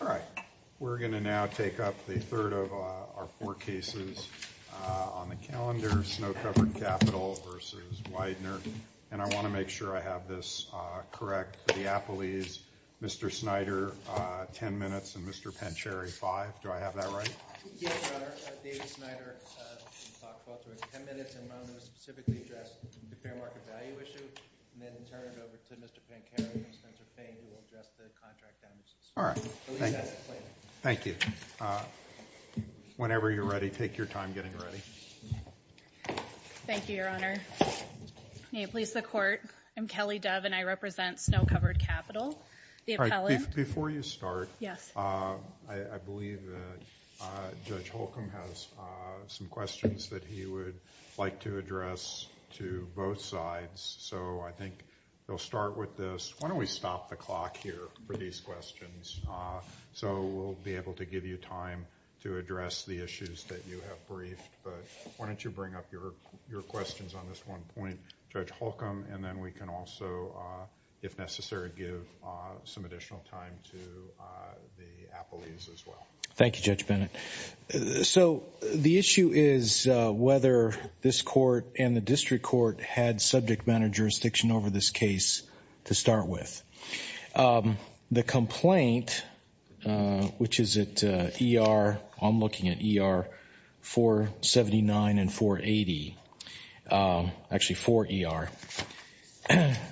All right. We're going to now take up the third of our four cases on the calendar, Snow Covered Capital v. Weidner. And I want to make sure I have this correct for the Applees, Mr. Snyder, 10 minutes, and Mr. Pancheri, 5. Do I have that right? Yes, Your Honor. David Snyder, 10 minutes, and I'm going to specifically address the and then turn it over to Mr. Pancheri and Spencer Payne, who will address the contract damages. All right. Thank you. Whenever you're ready, take your time getting ready. Thank you, Your Honor. May it please the Court, I'm Kelly Dove, and I represent Snow Covered Capital. All right. Before you start, I believe that Judge Holcomb has some questions that he would like to address to both sides. So I think we'll start with this. Why don't we stop the clock here for these questions so we'll be able to give you time to address the issues that you have briefed. But why don't you bring up your questions on this one point, Judge Holcomb, and then we can also, if necessary, give some additional time to the Applees as well. Thank you, Judge Bennett. So the issue is whether this court and the district court had subject matter jurisdiction over this case to start with. The complaint, which is at ER, I'm looking at ER 479 and 480, actually 4ER,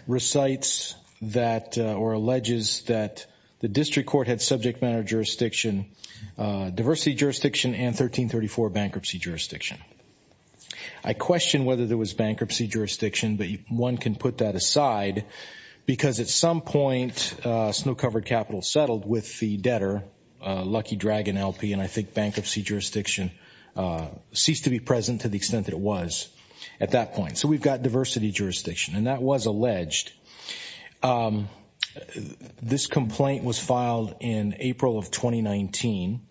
recites that or alleges that the district court had subject matter jurisdiction, diversity jurisdiction, and 1334 bankruptcy jurisdiction. I question whether there was bankruptcy jurisdiction, but one can put that aside because at some point, Snow Covered Capital settled with the debtor, Lucky Dragon LP, and I think bankruptcy jurisdiction ceased to be present to the extent that it was at that point. So we've got diversity jurisdiction, and that was alleged. This complaint was filed in April of 2019.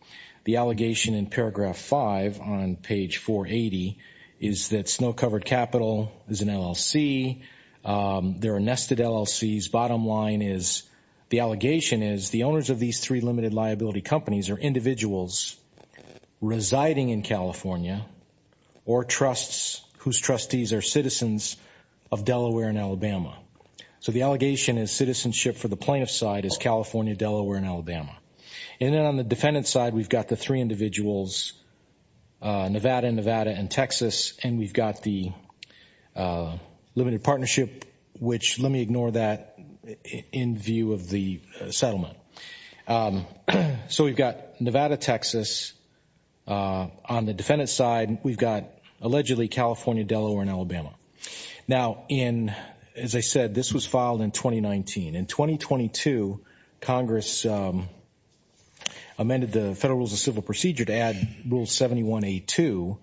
The allegation in paragraph five on page 480 is that Snow Covered Capital is an LLC. They're a nested LLC. Bottom line is the allegation is the owners of these three limited liability companies are individuals residing in California or trusts whose trustees are citizens of Delaware and Alabama. So the allegation is citizenship for the plaintiff's side is California, Delaware, and Alabama. And then on the defendant's side, we've got the three individuals, Nevada, Nevada, and Texas, and we've got the limited partnership, which let me ignore that in view of the settlement. So we've got Nevada, Texas. On the defendant's side, we've got allegedly California, Delaware, and Alabama. Now, as I said, this was filed in 2019. In 2022, Congress amended the Federal Rules of Civil Procedure to add Rule 7182,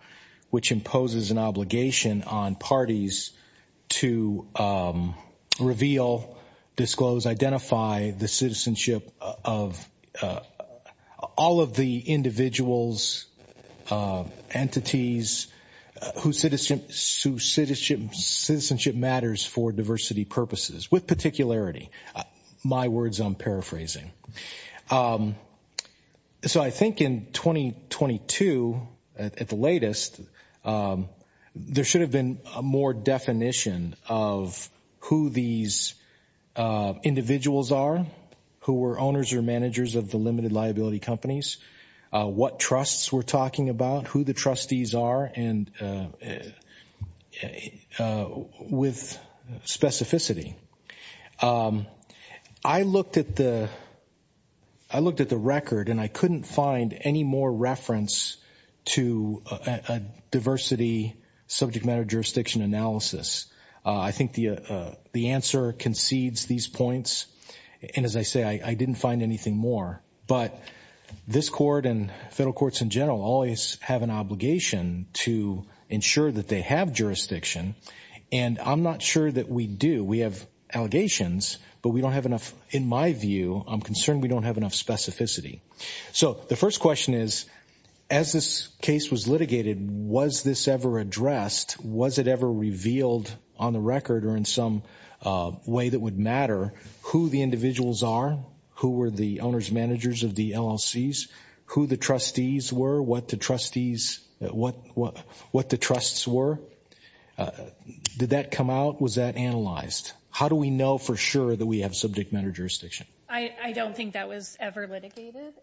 which imposes an obligation on parties to reveal, disclose, identify the citizenship of all of the individuals, entities, whose citizenship matters for diversity purposes with particularity. My words, I'm paraphrasing. So I think in 2022, at the latest, there should have been a more definition of who these individuals are, who were owners or managers of the limited liability companies, what trusts we're talking about, who the trustees are with specificity. I looked at the record and I couldn't find any more reference to a diversity subject matter jurisdiction analysis. I think the answer concedes these points. And as I say, I didn't find anything more. But this court and federal courts in general always have an obligation to ensure that they have jurisdiction. And I'm not sure that we do. We have allegations, but we don't have enough. In my view, I'm concerned we don't have enough specificity. So the first question is, as this case was litigated, was this ever addressed? Was it ever revealed on the record or in some way that would matter who the individuals are, who were the owners, managers of the LLCs, who the trustees were, what the trustees, what the trusts were? Did that come out? Was that analyzed? How do we know for sure that we have subject matter jurisdiction? I don't think that was ever litigated.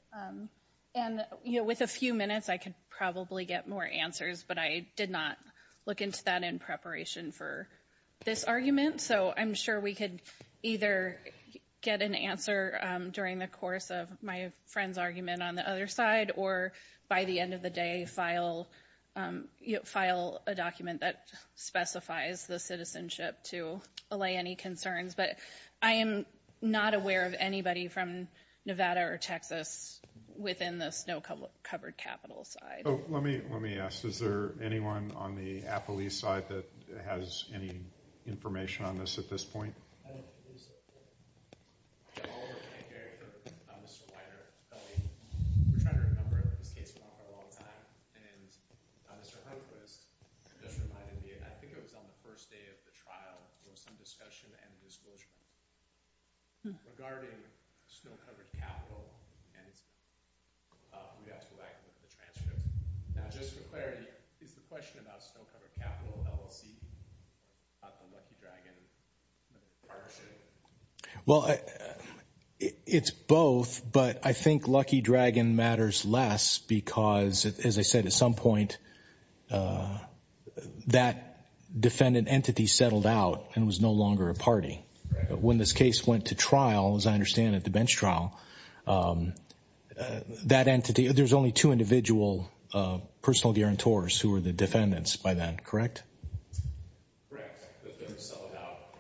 And, you know, with a few minutes, I could probably get more answers, but I did not look into that in preparation for this argument. So I'm sure we could either get an answer during the course of my friend's argument on the other side or, by the end of the day, file a document that specifies the citizenship to allay any concerns. But I am not aware of anybody from Nevada or Texas within the snow-covered capital side. Oh, let me ask, is there anyone on the Appaloose side that has any information on this at this point? I don't think there is. Yeah, I'll repeat, Gary, for Mr. Weiner. We're trying to remember it, but this case went on for a long time. And Mr. Hurtquist just reminded me, I think it was on the first day of the trial, there was some discussion and disclosure regarding snow-covered capital and we'd have to go back and look at the transcripts. Now, just for clarity, is the question about snow-covered capital, LLC, not the Lucky Dragon partnership? Well, it's both, but I think Lucky Dragon matters less because, as I said at some point, that defendant entity settled out and was no longer a party. When this case went to trial, that entity, there's only two individual personal guarantors who were the defendants by then, correct? Correct.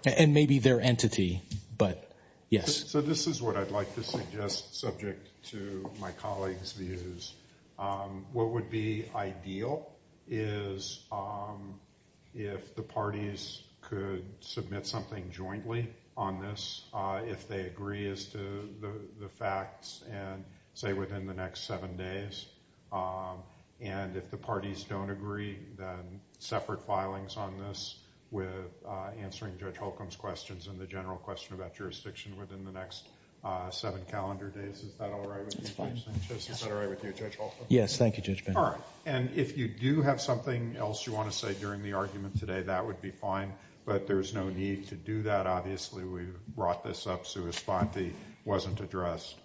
And maybe their entity, but yes. So this is what I'd like to suggest, subject to my colleagues' views. What would be ideal is if the parties could submit something jointly on this, if they agree as to the facts and say within the next seven days. And if the parties don't agree, then separate filings on this with answering Judge Holcomb's questions and the general question about jurisdiction within the next seven calendar days. Is that all right with you, Judge Sanchez? Is that all right with you, Judge Holcomb? Yes, thank you, Judge Bender. All right. And if you do have something else you want to say during the argument today, that would be fine, but there's no need to do that. Obviously, we brought this up, so a spot wasn't addressed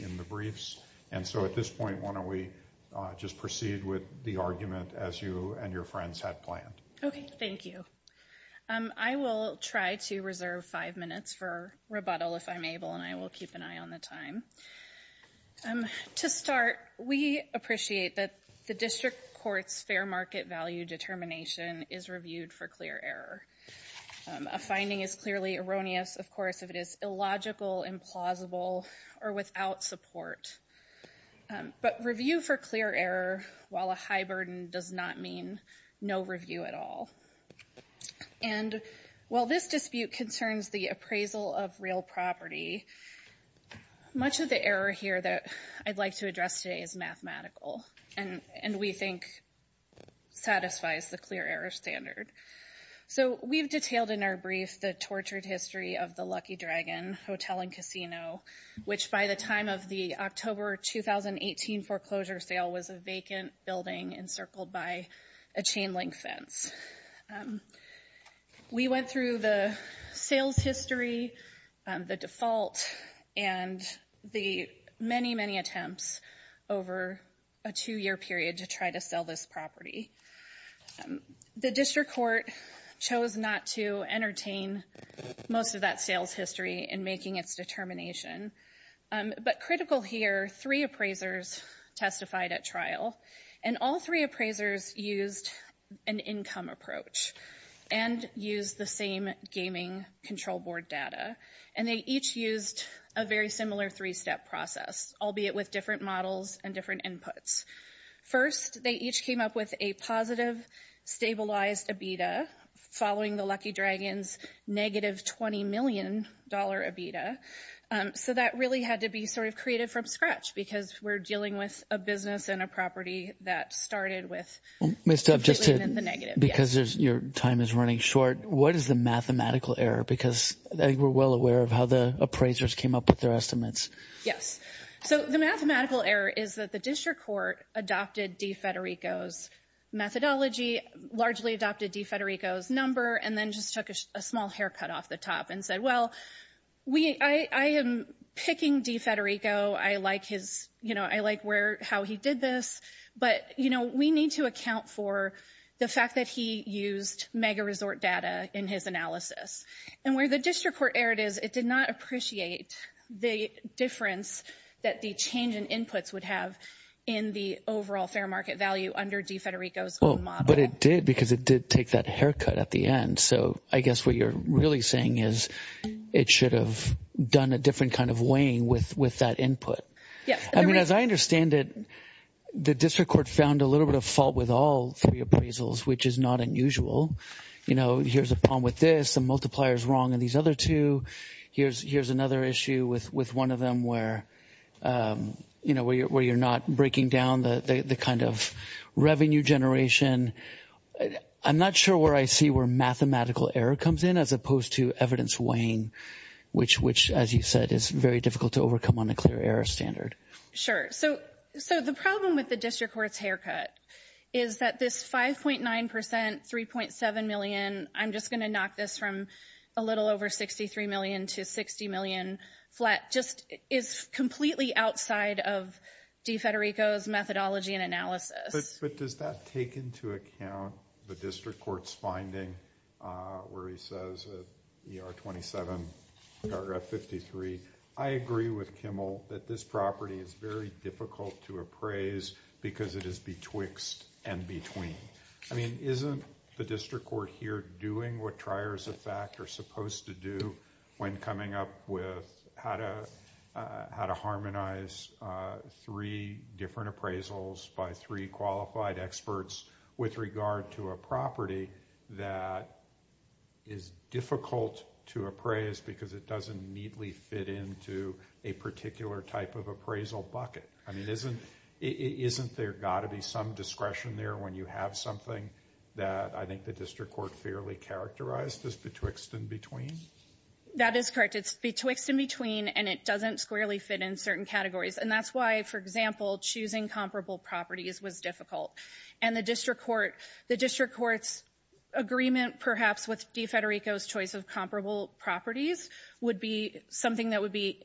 in the briefs. And so at this point, why don't we just proceed with the argument as you and your friends had planned? Okay, thank you. I will try to reserve five minutes for rebuttal if I'm able, and I will keep an eye on the time. To start, we appreciate that the district court's fair market value determination is reviewed for clear error. A finding is clearly erroneous, of course, if it is illogical, implausible, or without support. But review for clear error while a high burden does not mean no review at all. And while this dispute concerns the appraisal of real property, much of the error here that I'd like to address today is mathematical, and we think satisfies the clear error standard. So we've detailed in our brief the tortured history of the Lucky Dragon Hotel and Casino, which by the time of the October 2018 foreclosure sale was a vacant building encircled by a chain-link fence. We went through the sales history, the default, and the many, many attempts over a two-year period to try to sell this property. The district court chose not to entertain most of that sales history in making its determination. But critical here, three appraisers testified at trial, and all three appraisers used an income approach and used the same gaming control board data, and they each used a very similar three-step process, albeit with different models and different inputs. First, they each came up with a positive, stabilized EBITDA following the Lucky Dragon's negative $20 million EBITDA. So that really had to be sort of created from scratch because we're dealing with a business and a property that started with the negative. Because your time is running short, what is the mathematical error? Because I think we're well aware of how the appraisers came up with their estimates. Yes. So the mathematical error is that the district court adopted DeFederico's methodology, largely adopted DeFederico's number, and then just took a small haircut off the top and said, well, I am picking DeFederico. I like how he did this. But we need to account for the fact that he used mega-resort data in his analysis. And where the district court error is, it did not appreciate the difference that the change in inputs would have in the overall fair market value under DeFederico's own model. But it did because it did take that haircut at the end. So I guess what you're really saying is it should have done a different kind of weighing with that input. Yes. I mean, as I understand it, the district court found a little bit of fault with all three appraisals, which is not unusual. You know, here's a problem with this. The multiplier is wrong in these other two. Here's another issue with one of them where, you know, where you're not breaking down the kind of revenue generation. I'm not sure where I see where mathematical error comes in as opposed to evidence weighing, which, as you said, is very difficult to overcome on a clear error standard. Sure. So the problem with the district court's haircut is that this 5.9 percent, 3.7 million, I'm just going to knock this from a little over 63 million to 60 million flat, just is completely outside of DeFederico's methodology and analysis. But does that take into account the district court's finding where he says, you know, 27 paragraph 53, I agree with Kimmel that this property is very difficult to appraise because it is betwixt and between. I mean, isn't the district court here doing what triers of fact are supposed to do when coming up with how to how to harmonize three different appraisals by three qualified experts with regard to a property that is difficult to appraise because it doesn't neatly fit into a particular type of appraisal bucket? I mean, isn't there got to be some discretion there when you have something that I think the district court fairly characterized as betwixt and between? That is correct. It's betwixt and between, and it doesn't squarely fit in certain categories. And that's why, for example, choosing comparable properties was difficult. And the district court, the district court's agreement perhaps with DeFederico's choice of comparable properties would be something that would be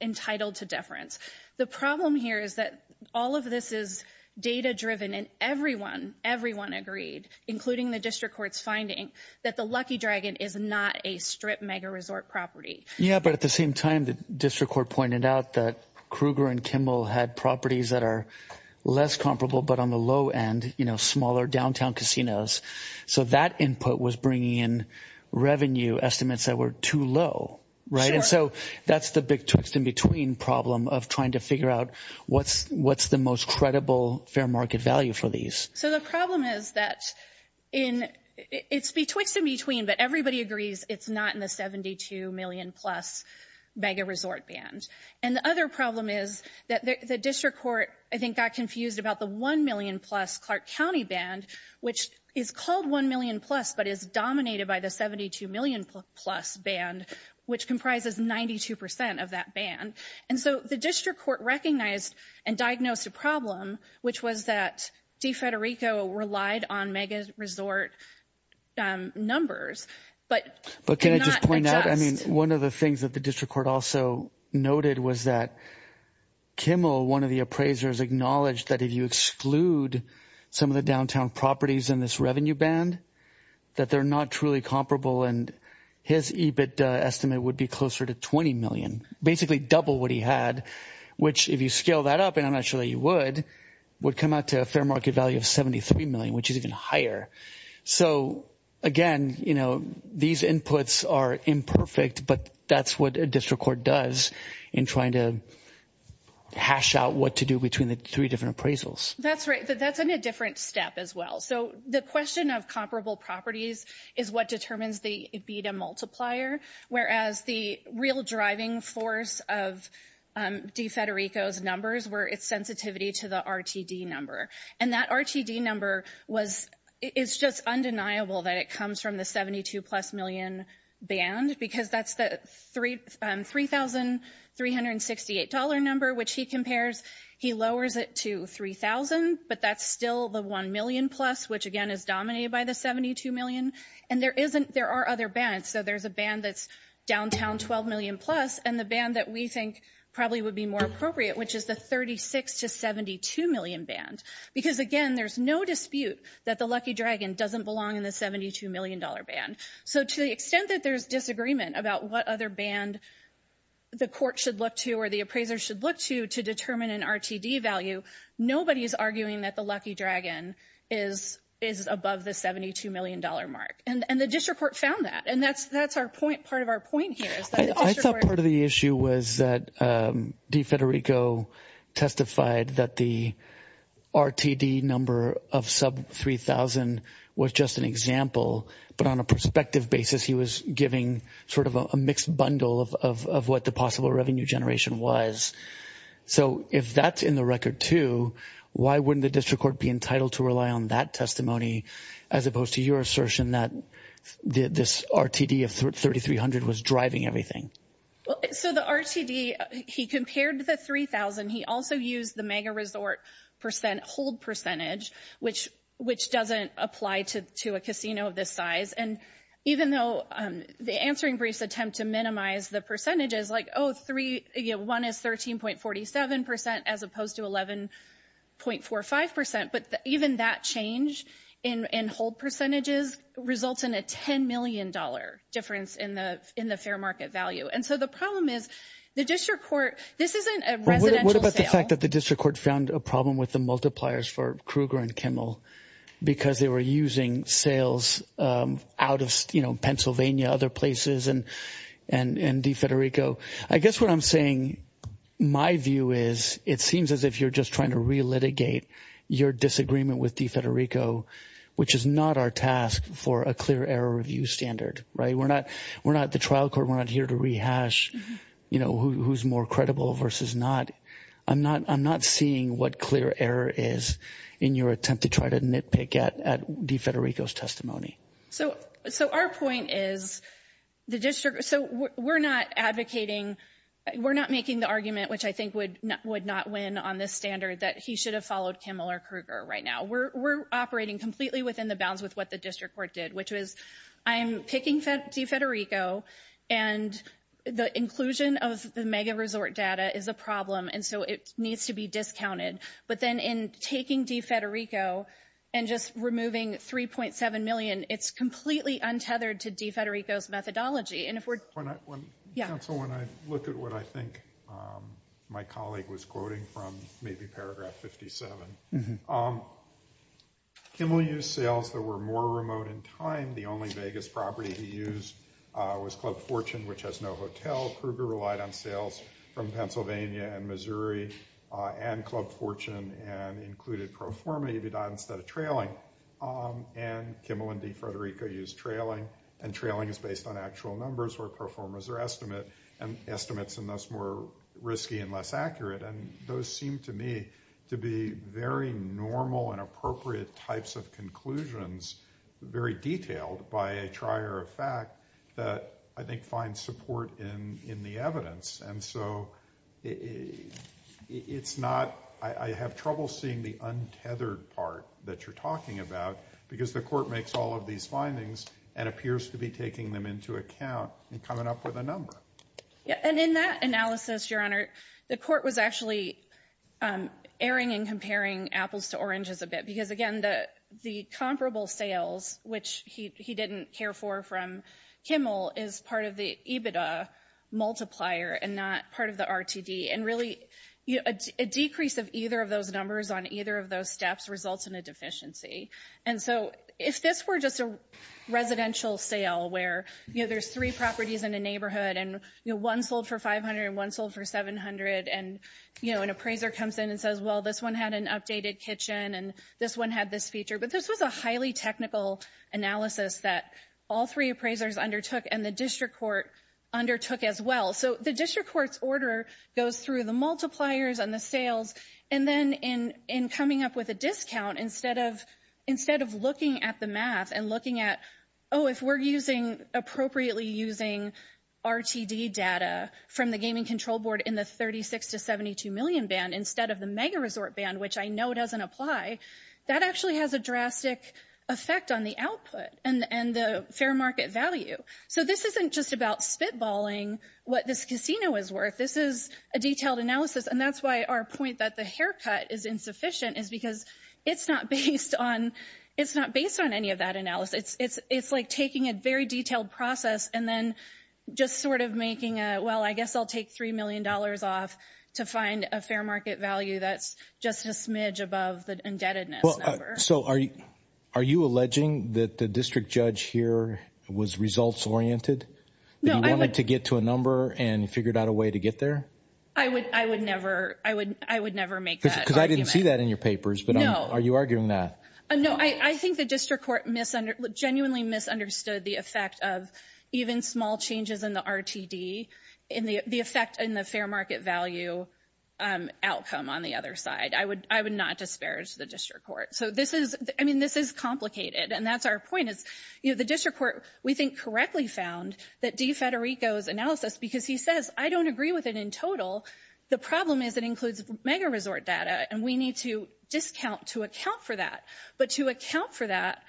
entitled to deference. The problem here is that all of this is data driven and everyone, everyone agreed, including the district court's finding that the Lucky Dragon is not a strip mega resort property. Yeah, but at the same time, the district court pointed out that Kruger and Kimmel had properties that are less comparable, but on the low end, you know, smaller downtown casinos. So that input was bringing in revenue estimates that were too low, right? Sure. And so that's the betwixt and between problem of trying to figure out what's the most credible fair market value for these. So the problem is that it's betwixt and between, but everybody agrees it's not in the $72 million plus mega resort band. And the other problem is that the district court, I think, got confused about the $1 million plus Clark County band, which is called $1 million plus, but is dominated by the $72 million plus band, which comprises 92 percent of that band. And so the district court recognized and diagnosed a problem, which was that DeFederico relied on mega resort numbers, but did not adjust. I mean, one of the things that the district court also noted was that Kimmel, one of the appraisers, acknowledged that if you exclude some of the downtown properties in this revenue band, that they're not truly comparable. And his EBIT estimate would be closer to $20 million, basically double what he had, which if you scale that up, and I'm not sure that you would, would come out to a fair market value of $73 million, which is even higher. So again, you know, these inputs are imperfect, but that's what a district court does in trying to hash out what to do between the three different appraisals. That's right, but that's in a different step as well. So the question of comparable properties is what determines the EBITA multiplier, whereas the real driving force of DeFederico's numbers were its sensitivity to the RTD number. And that RTD number was, it's just undeniable that it comes from the $72 plus million band, because that's the $3,368 number, which he compares, he lowers it to $3,000, but that's still the $1 million plus, which again is dominated by the $72 million. And there isn't, there are other bands. So there's a band that's downtown $12 million plus, and the band that we think probably would be more appropriate, which is the $36 to $72 million band. Because again, there's no dispute that the Lucky Dragon doesn't belong in the $72 million band. So to the extent that there's disagreement about what other band the court should look to or the appraiser should look to, to determine an RTD value, nobody is arguing that the Lucky Dragon is above the $72 million mark. And the district court found that, and that's our point, part of our point here. I thought part of the issue was that DeFederico testified that the RTD number of sub $3,000 was just an example, but on a perspective basis he was giving sort of a mixed bundle of what the possible revenue generation was. So if that's in the record too, why wouldn't the district court be entitled to rely on that testimony, as opposed to your assertion that this RTD of $3,300 was driving everything? So the RTD, he compared the $3,000. He also used the mega resort hold percentage, which doesn't apply to a casino of this size. And even though the answering briefs attempt to minimize the percentages, like, oh, one is 13.47% as opposed to 11.45%, but even that change in hold percentages results in a $10 million difference in the fair market value. And so the problem is the district court, this isn't a residential sale. What about the fact that the district court found a problem with the multipliers for Kruger and Kimmel, because they were using sales out of, you know, Pennsylvania, other places, and DeFederico? I guess what I'm saying, my view is it seems as if you're just trying to relitigate your disagreement with DeFederico, which is not our task for a clear error review standard, right? We're not the trial court. We're not here to rehash, you know, who's more credible versus not. I'm not seeing what clear error is in your attempt to try to nitpick at DeFederico's testimony. So our point is the district, so we're not advocating, we're not making the argument, which I think would not win on this standard, that he should have followed Kimmel or Kruger right now. We're operating completely within the bounds with what the district court did, which was I'm picking DeFederico, and the inclusion of the mega resort data is a problem, and so it needs to be discounted. But then in taking DeFederico and just removing 3.7 million, it's completely untethered to DeFederico's methodology. And if we're, yeah. Council, when I look at what I think my colleague was quoting from, maybe paragraph 57, Kimmel used sales that were more remote in time. The only Vegas property he used was Club Fortune, which has no hotel. Kruger relied on sales from Pennsylvania and Missouri and Club Fortune and included pro forma instead of trailing. And Kimmel and DeFederico used trailing, and trailing is based on actual numbers where pro forma is their estimate, and estimates are thus more risky and less accurate. And those seem to me to be very normal and appropriate types of conclusions, very detailed by a trier of fact that I think finds support in the evidence. And so it's not, I have trouble seeing the untethered part that you're talking about because the court makes all of these findings and appears to be taking them into account and coming up with a number. And in that analysis, Your Honor, the court was actually erring and comparing apples to oranges a bit because, again, the comparable sales, which he didn't care for from Kimmel, is part of the EBITDA multiplier and not part of the RTD. And really, a decrease of either of those numbers on either of those steps results in a deficiency. And so if this were just a residential sale where there's three properties in a neighborhood and one sold for $500 and one sold for $700, and an appraiser comes in and says, well, this one had an updated kitchen and this one had this feature. But this was a highly technical analysis that all three appraisers undertook and the district court undertook as well. So the district court's order goes through the multipliers and the sales. And then in coming up with a discount, instead of looking at the math and looking at, oh, if we're appropriately using RTD data from the gaming control board in the $36 million to $72 million band instead of the mega resort band, which I know doesn't apply, that actually has a drastic effect on the output and the fair market value. So this isn't just about spitballing what this casino is worth. This is a detailed analysis, and that's why our point that the haircut is insufficient is because it's not based on any of that analysis. It's like taking a very detailed process and then just sort of making a, well, I guess I'll take $3 million off to find a fair market value that's just a smidge above the indebtedness number. So are you alleging that the district judge here was results-oriented, that he wanted to get to a number and figured out a way to get there? I would never make that argument. Because I didn't see that in your papers, but are you arguing that? No, I think the district court genuinely misunderstood the effect of even small changes in the RTD, the effect in the fair market value outcome on the other side. I would not disparage the district court. So this is complicated, and that's our point. The district court, we think, correctly found that DeFederico's analysis, because he says, I don't agree with it in total. The problem is it includes mega resort data, and we need to discount to account for that. But to account for that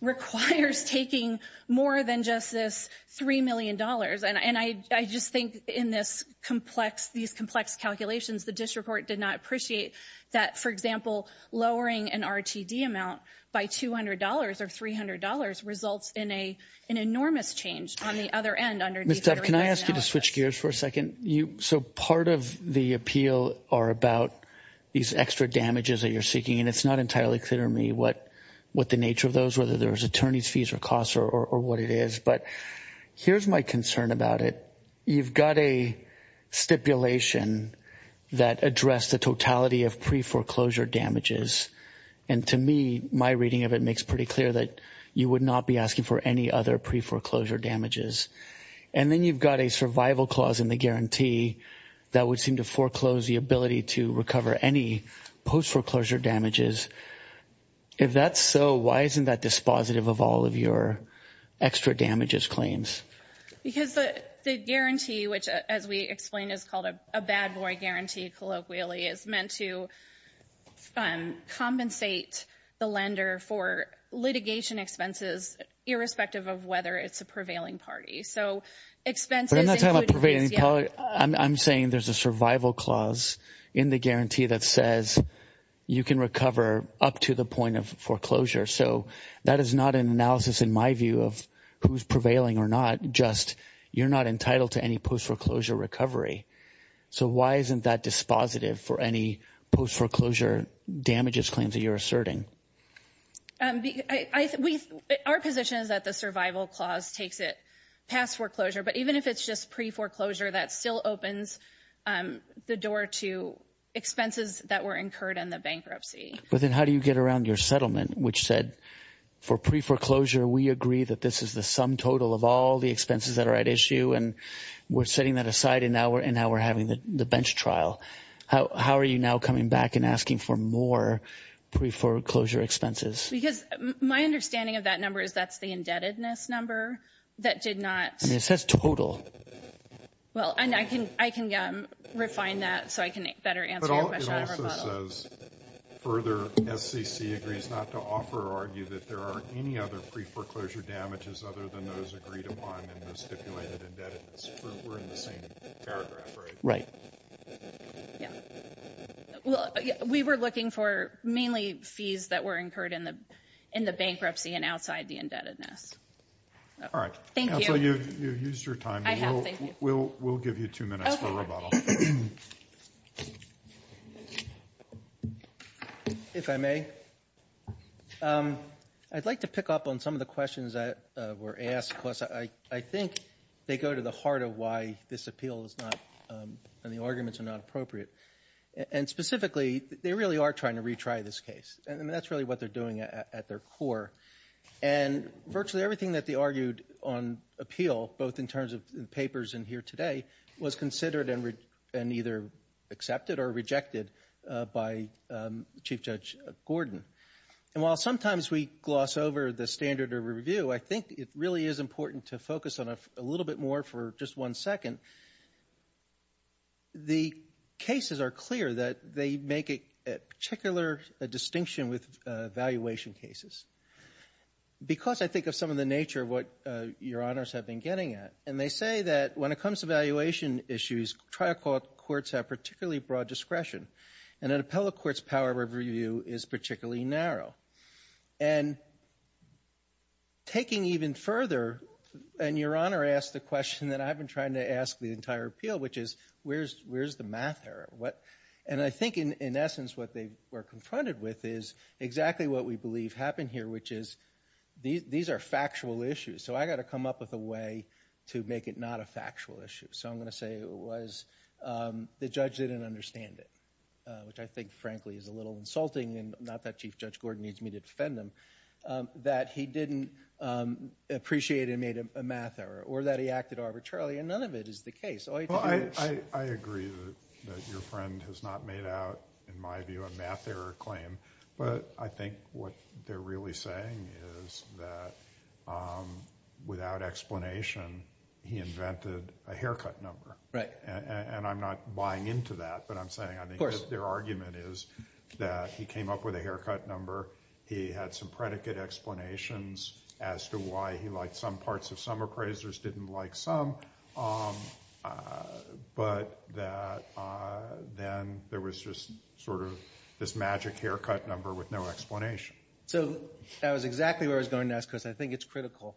requires taking more than just this $3 million. And I just think in these complex calculations, the district court did not appreciate that, for example, lowering an RTD amount by $200 or $300 results in an enormous change on the other end under DeFederico's analysis. Ms. Dove, can I ask you to switch gears for a second? So part of the appeal are about these extra damages that you're seeking, and it's not entirely clear to me what the nature of those, whether there's attorney's fees or costs or what it is. But here's my concern about it. You've got a stipulation that addressed the totality of pre-foreclosure damages. And to me, my reading of it makes pretty clear that you would not be asking for any other pre-foreclosure damages. And then you've got a survival clause in the guarantee that would seem to If that's so, why isn't that dispositive of all of your extra damages claims? Because the guarantee, which, as we explained, is called a bad boy guarantee, colloquially, is meant to compensate the lender for litigation expenses, irrespective of whether it's a prevailing party. So expenses including fees, yeah. I'm saying there's a survival clause in the guarantee that says you can recover up to the point of foreclosure. So that is not an analysis, in my view, of who's prevailing or not, just you're not entitled to any post-foreclosure recovery. So why isn't that dispositive for any post-foreclosure damages claims that you're asserting? Our position is that the survival clause takes it past foreclosure. But even if it's just pre-foreclosure, that still opens the door to expenses that were incurred in the bankruptcy. But then how do you get around your settlement, which said, for pre-foreclosure we agree that this is the sum total of all the expenses that are at issue and we're setting that aside and now we're having the bench trial. How are you now coming back and asking for more pre-foreclosure expenses? Because my understanding of that number is that's the indebtedness number that did not And it says total. Well, and I can refine that so I can better answer your question. But it also says further SCC agrees not to offer or argue that there are any other pre-foreclosure damages other than those agreed upon in the stipulated indebtedness. We're in the same paragraph, right? Right. Yeah. Well, we were looking for mainly fees that were incurred in the bankruptcy and outside the indebtedness. All right. Thank you. You've used your time. I have. Thank you. We'll give you two minutes for rebuttal. Okay. If I may, I'd like to pick up on some of the questions that were asked. Of course, I think they go to the heart of why this appeal is not and the arguments are not appropriate. And specifically, they really are trying to retry this case. And that's really what they're doing at their core. And virtually everything that they argued on appeal, both in terms of the papers and here today, was considered and either accepted or rejected by Chief Judge Gordon. And while sometimes we gloss over the standard of review, I think it really is important to focus on a little bit more for just one second. The cases are clear that they make a particular distinction with evaluation cases. Because I think of some of the nature of what Your Honors have been getting at. And they say that when it comes to valuation issues, trial courts have particularly broad discretion. And an appellate court's power of review is particularly narrow. And taking even further, and Your Honor asked the question that I've been trying to ask the entire appeal, which is where's the math error? And I think in essence what they were confronted with is exactly what we believe happened here, which is these are factual issues. So I've got to come up with a way to make it not a factual issue. So I'm going to say it was the judge didn't understand it, which I think frankly is a little insulting, and not that Chief Judge Gordon needs me to defend him, that he didn't appreciate and made a math error, or that he acted arbitrarily, and none of it is the case. I agree that your friend has not made out, in my view, a math error claim. But I think what they're really saying is that without explanation he invented a haircut number. And I'm not buying into that, but I'm saying I think their argument is that he came up with a haircut number, he had some predicate explanations as to why he liked some parts of some appraisers, didn't like some, but that then there was just sort of this magic haircut number with no explanation. So that was exactly what I was going to ask because I think it's critical.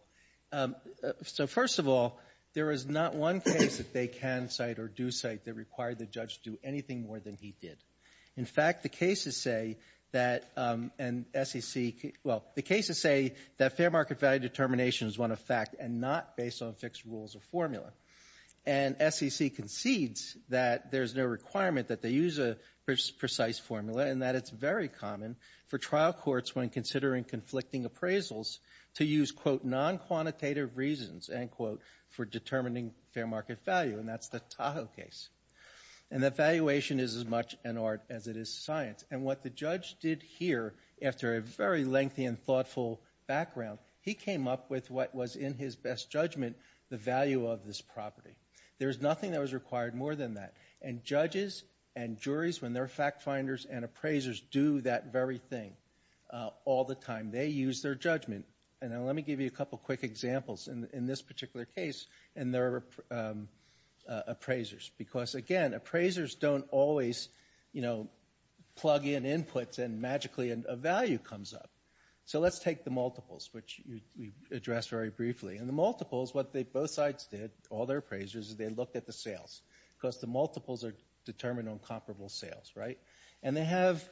So first of all, there is not one case that they can cite or do cite that required the judge to do anything more than he did. In fact, the cases say that fair market value determination is one of fact, and not based on fixed rules or formula. And SEC concedes that there's no requirement that they use a precise formula, and that it's very common for trial courts, when considering conflicting appraisals, to use, quote, non-quantitative reasons, end quote, for determining fair market value, and that's the Tahoe case. And that valuation is as much an art as it is science. And what the judge did here, after a very lengthy and thoughtful background, he came up with what was, in his best judgment, the value of this property. There's nothing that was required more than that. And judges and juries, when they're fact finders and appraisers, do that very thing all the time. They use their judgment. And let me give you a couple quick examples. In this particular case, and there are appraisers. Because, again, appraisers don't always, you know, plug in inputs and magically a value comes up. So let's take the multiples, which we addressed very briefly. In the multiples, what both sides did, all their appraisers, is they looked at the sales. Because the multiples are determined on comparable sales, right? And they have,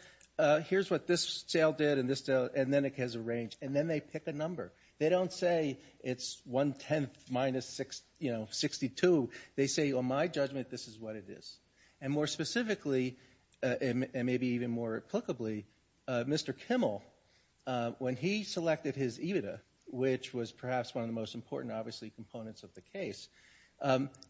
here's what this sale did and this sale, and then it has a range. And then they pick a number. They don't say it's one-tenth minus, you know, 62. They say, on my judgment, this is what it is. And more specifically, and maybe even more applicably, Mr. Kimmel, when he selected his EBITDA, which was perhaps one of the most important, obviously, components of the case,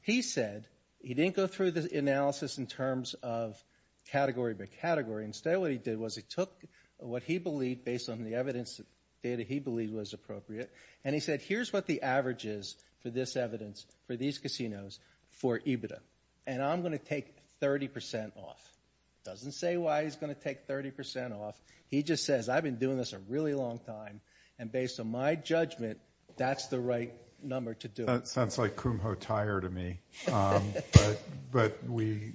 he said he didn't go through the analysis in terms of category by category. Instead, what he did was he took what he believed, based on the evidence data he believed was appropriate, and he said, here's what the average is for this evidence for these casinos for EBITDA. And I'm going to take 30% off. Doesn't say why he's going to take 30% off. He just says, I've been doing this a really long time, and based on my judgment, that's the right number to do it. That sounds like Kumho Tyre to me. But we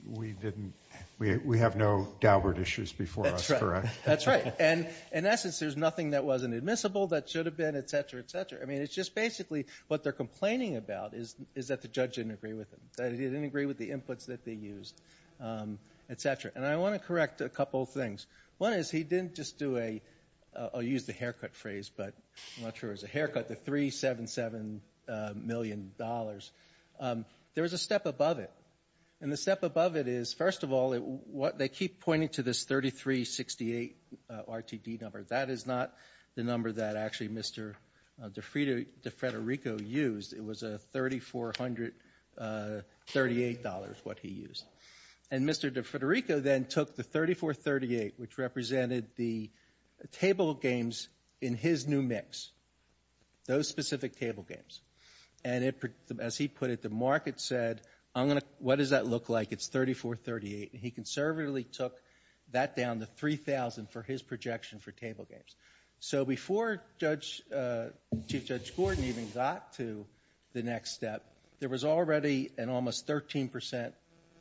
have no Daubert issues before us, correct? That's right. And in essence, there's nothing that wasn't admissible that should have been, et cetera, et cetera. I mean, it's just basically what they're complaining about is that the judge didn't agree with them, that he didn't agree with the inputs that they used, et cetera. And I want to correct a couple of things. One is he didn't just do a, I'll use the haircut phrase, but I'm not sure it was a haircut, but the $377 million, there was a step above it. And the step above it is, first of all, they keep pointing to this 3,368 RTD number. That is not the number that actually Mr. DeFrederico used. It was a $3,438 what he used. And Mr. DeFrederico then took the 3,438, which represented the table games in his new mix, those specific table games, and as he put it, the market said, what does that look like? It's 3,438. And he conservatively took that down to 3,000 for his projection for table games. So before Chief Judge Gordon even got to the next step, there was already an almost 13%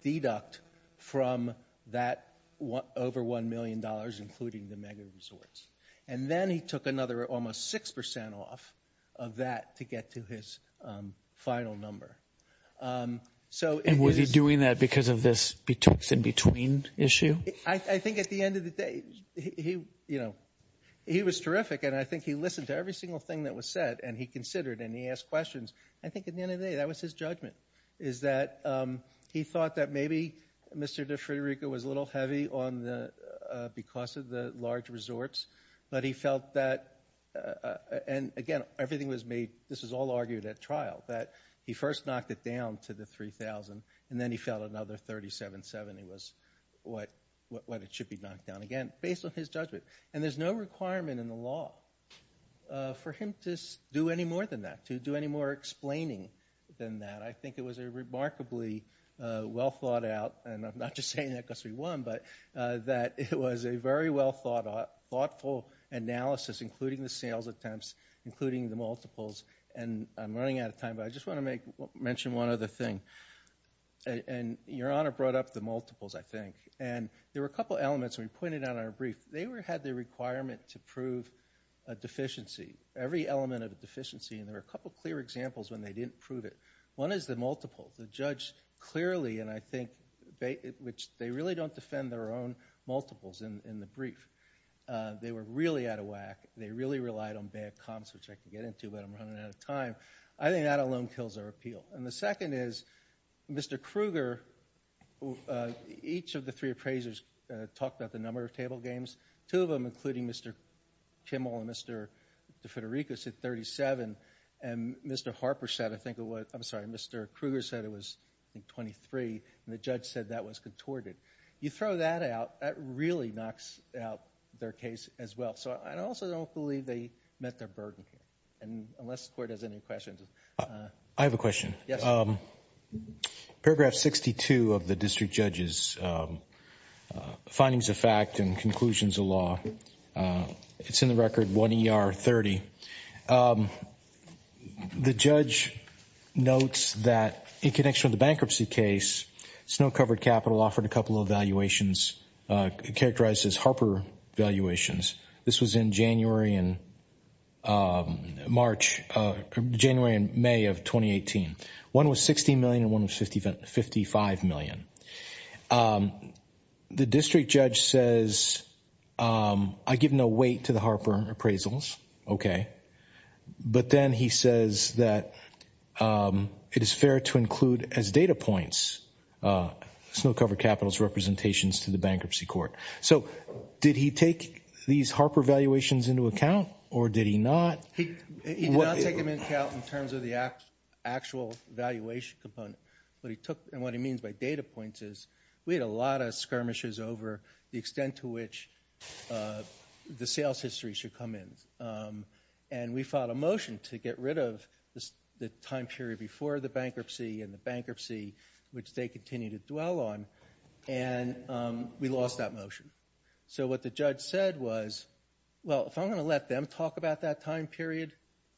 deduct from that over $1 million, including the mega resorts. And then he took another almost 6% off of that to get to his final number. And was he doing that because of this in-between issue? I think at the end of the day, he was terrific, and I think he listened to every single thing that was said, and he considered and he asked questions. I think at the end of the day, that was his judgment, is that he thought that maybe Mr. DeFrederico was a little heavy because of the large resorts, but he felt that, and again, everything was made, this was all argued at trial, that he first knocked it down to the 3,000, and then he felt another 3,770 was what it should be knocked down again, based on his judgment. And there's no requirement in the law for him to do any more than that, to do any more explaining than that. I think it was a remarkably well-thought-out, and I'm not just saying that because we won, but that it was a very well-thought-out, thoughtful analysis, including the sales attempts, including the multiples. And I'm running out of time, but I just want to mention one other thing. And Your Honor brought up the multiples, I think, and there were a couple elements we pointed out in our brief. They had the requirement to prove a deficiency, every element of a deficiency, and there were a couple clear examples when they didn't prove it. One is the multiple. The judge clearly, and I think they really don't defend their own multiples in the brief. They were really out of whack. They really relied on bad comments, which I can get into, but I'm running out of time. I think that alone kills their appeal. And the second is Mr. Krueger, each of the three appraisers talked about the number of table games. Two of them, including Mr. Kimmel and Mr. DeFederico, said 37, and Mr. Harper said, I think it was, I'm sorry, Mr. Krueger said it was, I think, 23, and the judge said that was contorted. You throw that out, that really knocks out their case as well. So I also don't believe they met their burden, unless the court has any questions. I have a question. Paragraph 62 of the district judge's findings of fact and conclusions of law, it's in the record 1 ER 30. The judge notes that in connection with the bankruptcy case, Snow-Covered Capital offered a couple of valuations characterized as Harper valuations. This was in January and March, January and May of 2018. One was $60 million and one was $55 million. The district judge says, I give no weight to the Harper appraisals, okay, but then he says that it is fair to include as data points Snow-Covered Capital's representations to the bankruptcy court. So did he take these Harper valuations into account or did he not? He did not take them into account in terms of the actual valuation component. What he took and what he means by data points is we had a lot of skirmishes over the extent to which the sales history should come in. And we filed a motion to get rid of the time period before the bankruptcy and the bankruptcy, which they continue to dwell on. And we lost that motion. So what the judge said was, well, if I'm going to let them talk about that time period,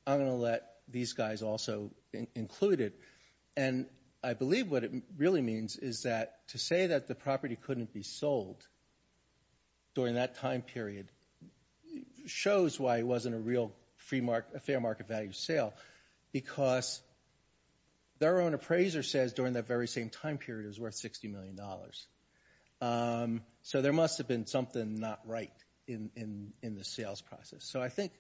I'm going to let these guys also include it. And I believe what it really means is that to say that the property couldn't be sold during that time period shows why it wasn't a real fair market value sale, because their own appraiser says during that very same time period it was worth $60 million. So there must have been something not right in the sales process. So I think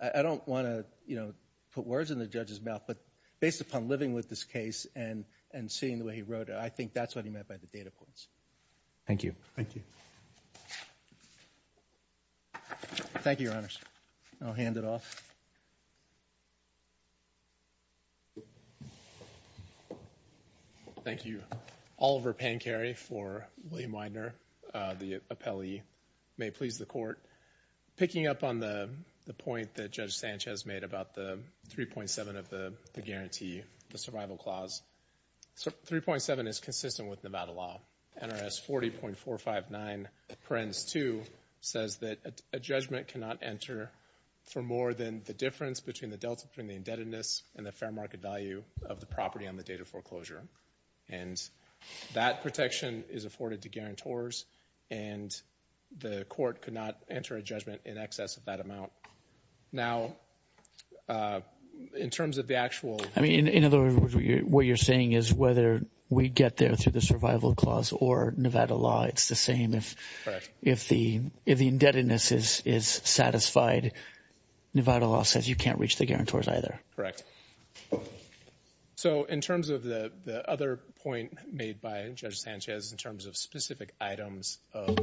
I don't want to, you know, put words in the judge's mouth, but based upon living with this case and seeing the way he wrote it, I think that's what he meant by the data points. Thank you. Thank you. Thank you, Your Honors. I'll hand it off. Thank you. Oliver Pankary for William Widener, the appellee. May it please the Court. Picking up on the point that Judge Sanchez made about the 3.7 of the guarantee, the survival clause, 3.7 is consistent with Nevada law. NRS 40.459 parens 2 says that a judgment cannot enter for more than the difference between the delta, between the indebtedness and the fair market value of the property on the date of foreclosure. And that protection is afforded to guarantors, and the court could not enter a judgment in excess of that amount. Now, in terms of the actual ---- In other words, what you're saying is whether we get there through the survival clause or Nevada law, it's the same. Correct. If the indebtedness is satisfied, Nevada law says you can't reach the guarantors either. Correct. So in terms of the other point made by Judge Sanchez in terms of specific items of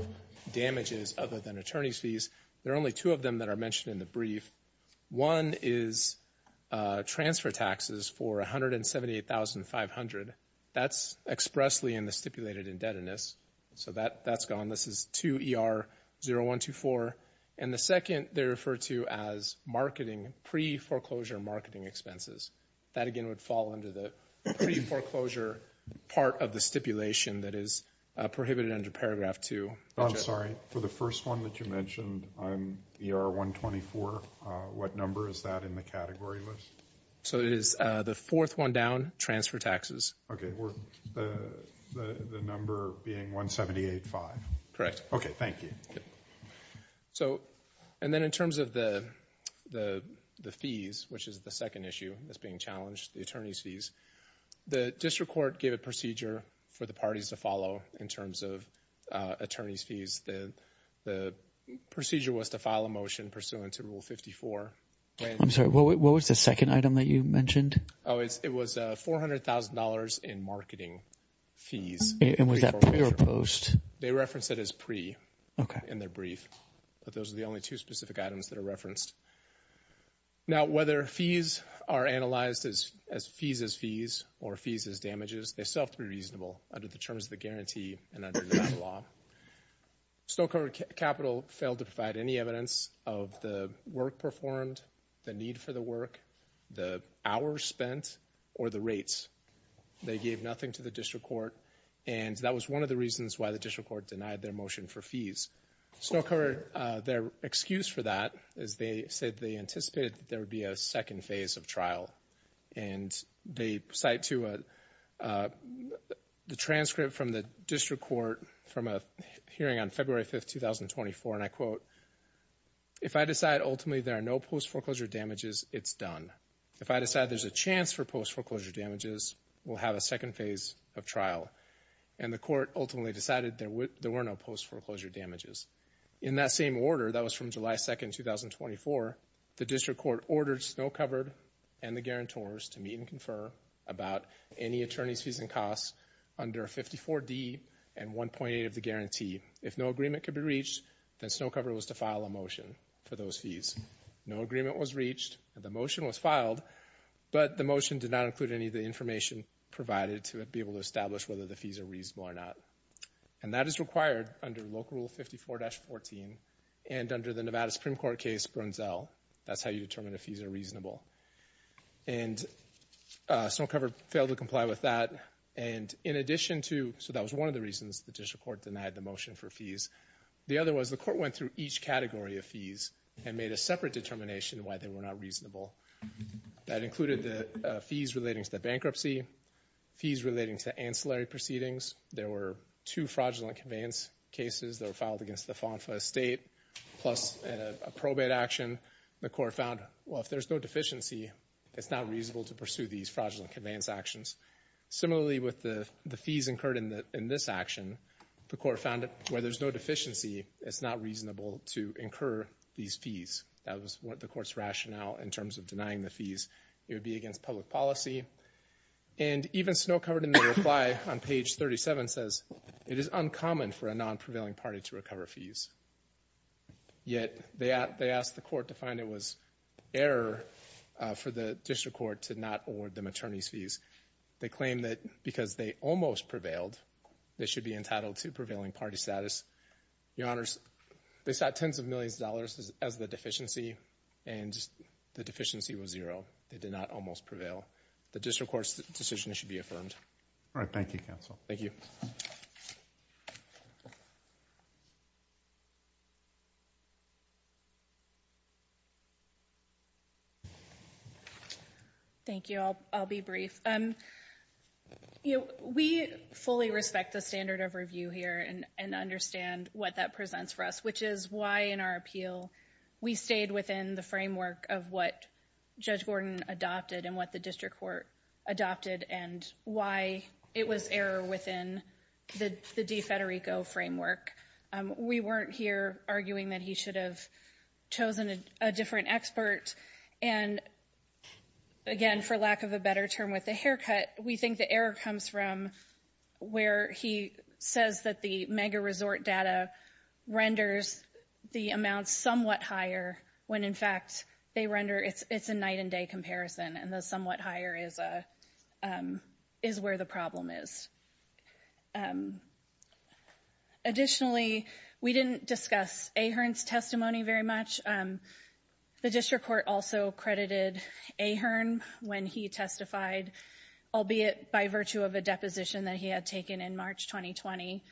damages other than attorney's fees, there are only two of them that are mentioned in the brief. One is transfer taxes for $178,500. That's expressly in the stipulated indebtedness. So that's gone. This is 2 ER 0124. And the second they refer to as marketing, pre-foreclosure marketing expenses. That, again, would fall under the pre-foreclosure part of the stipulation that is prohibited under paragraph 2. I'm sorry. For the first one that you mentioned on ER 124, what number is that in the category list? So it is the fourth one down, transfer taxes. Okay. The number being 178,500. Correct. Okay. Thank you. So and then in terms of the fees, which is the second issue that's being challenged, the attorney's fees, the district court gave a procedure for the parties to follow in terms of attorney's fees. The procedure was to file a motion pursuant to Rule 54. I'm sorry. What was the second item that you mentioned? Oh, it was $400,000 in marketing fees. And was that pre or post? They referenced it as pre in their brief. But those are the only two specific items that are referenced. Now, whether fees are analyzed as fees as fees or fees as damages, they still have to be reasonable under the terms of the guarantee and under the law. Stoke-Huron Capital failed to provide any evidence of the work performed, the need for the work, the hours spent, or the rates. They gave nothing to the district court, and that was one of the reasons why the district court denied their motion for fees. Stoke-Huron, their excuse for that is they said they anticipated there would be a second phase of trial. And they cite to the transcript from the district court from a hearing on February 5th, 2024, and I quote, if I decide ultimately there are no post-foreclosure damages, it's done. If I decide there's a chance for post-foreclosure damages, we'll have a second phase of trial. And the court ultimately decided there were no post-foreclosure damages. In that same order, that was from July 2nd, 2024, the district court ordered Snow-Covered and the guarantors to meet and confer about any attorney's fees and costs under 54D and 1.8 of the guarantee. If no agreement could be reached, then Snow-Covered was to file a motion for those fees. No agreement was reached, and the motion was filed, but the motion did not include any of the information provided to be able to establish whether the fees are reasonable or not. And that is required under Local Rule 54-14 and under the Nevada Supreme Court case Brunzel. That's how you determine if fees are reasonable. And Snow-Covered failed to comply with that. And in addition to, so that was one of the reasons the district court denied the motion for fees. The other was the court went through each category of fees and made a separate determination why they were not reasonable. That included the fees relating to bankruptcy, fees relating to ancillary proceedings. There were two fraudulent conveyance cases that were filed against the FONFA estate, plus a probate action. The court found, well, if there's no deficiency, it's not reasonable to pursue these fraudulent conveyance actions. Similarly, with the fees incurred in this action, the court found where there's no deficiency, it's not reasonable to incur these fees. That was the court's rationale in terms of denying the fees. It would be against public policy. And even Snow-Covered in the reply on page 37 says, it is uncommon for a non-prevailing party to recover fees. Yet, they asked the court to find it was error for the district court to not award them attorney's fees. They claim that because they almost prevailed, they should be entitled to prevailing party status. Your Honors, they sought tens of millions of dollars as the deficiency, and the deficiency was zero. They did not almost prevail. The district court's decision should be affirmed. All right. Thank you, counsel. Thank you. Thank you. I'll be brief. We fully respect the standard of review here and understand what that presents for us, which is why, in our appeal, we stayed within the framework of what Judge Gordon adopted and what the district court adopted and why it was error within the DeFederico framework. We weren't here arguing that he should have chosen a different expert. And, again, for lack of a better term with the haircut, we think the error comes from where he says that the mega-resort data renders the amounts somewhat higher when, in fact, they render it's a night-and-day comparison and the somewhat higher is where the problem is. Additionally, we didn't discuss Ahearn's testimony very much. The district court also credited Ahearn when he testified, albeit by virtue of a deposition that he had taken in March 2020,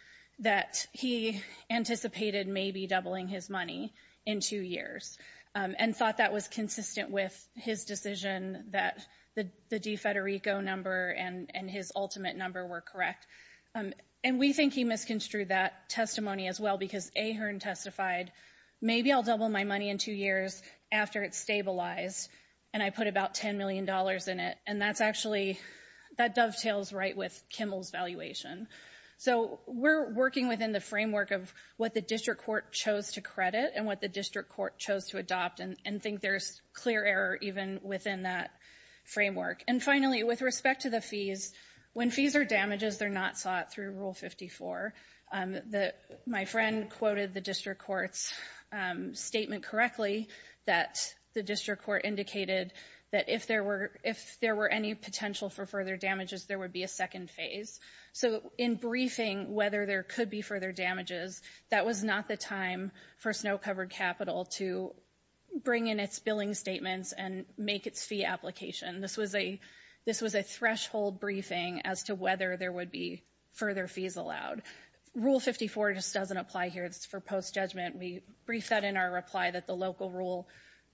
that he anticipated maybe doubling his money in two years and thought that was consistent with his decision that the DeFederico number and his ultimate number were correct. And we think he misconstrued that testimony as well because Ahearn testified, maybe I'll double my money in two years after it's stabilized and I put about $10 million in it. And that's actually that dovetails right with Kimmel's valuation. So we're working within the framework of what the district court chose to credit and what the district court chose to adopt and think there's clear error even within that framework. And finally, with respect to the fees, when fees are damages, they're not sought through Rule 54. My friend quoted the district court's statement correctly that the district court indicated that if there were any potential for further damages, there would be a second phase. So in briefing whether there could be further damages, that was not the time for Snow-Covered Capital to bring in its billing statements and make its fee application. This was a threshold briefing as to whether there would be further fees allowed. Rule 54 just doesn't apply here. It's for post-judgment. We brief that in our reply that the local rule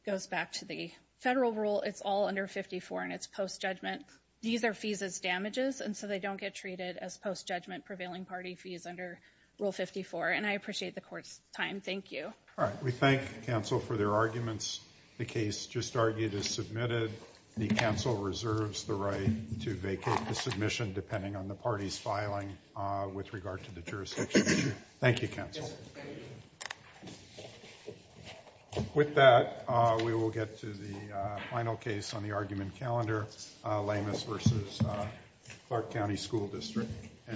goes back to the federal rule. It's all under 54 and it's post-judgment. These are fees as damages and so they don't get treated as post-judgment prevailing party fees under Rule 54. And I appreciate the court's time. Thank you. All right. We thank counsel for their arguments. The case just argued is submitted. The counsel reserves the right to vacate the submission depending on the party's filing with regard to the jurisdiction issue. Thank you, counsel. With that, we will get to the final case on the argument calendar, Lamas v. Clark County School District.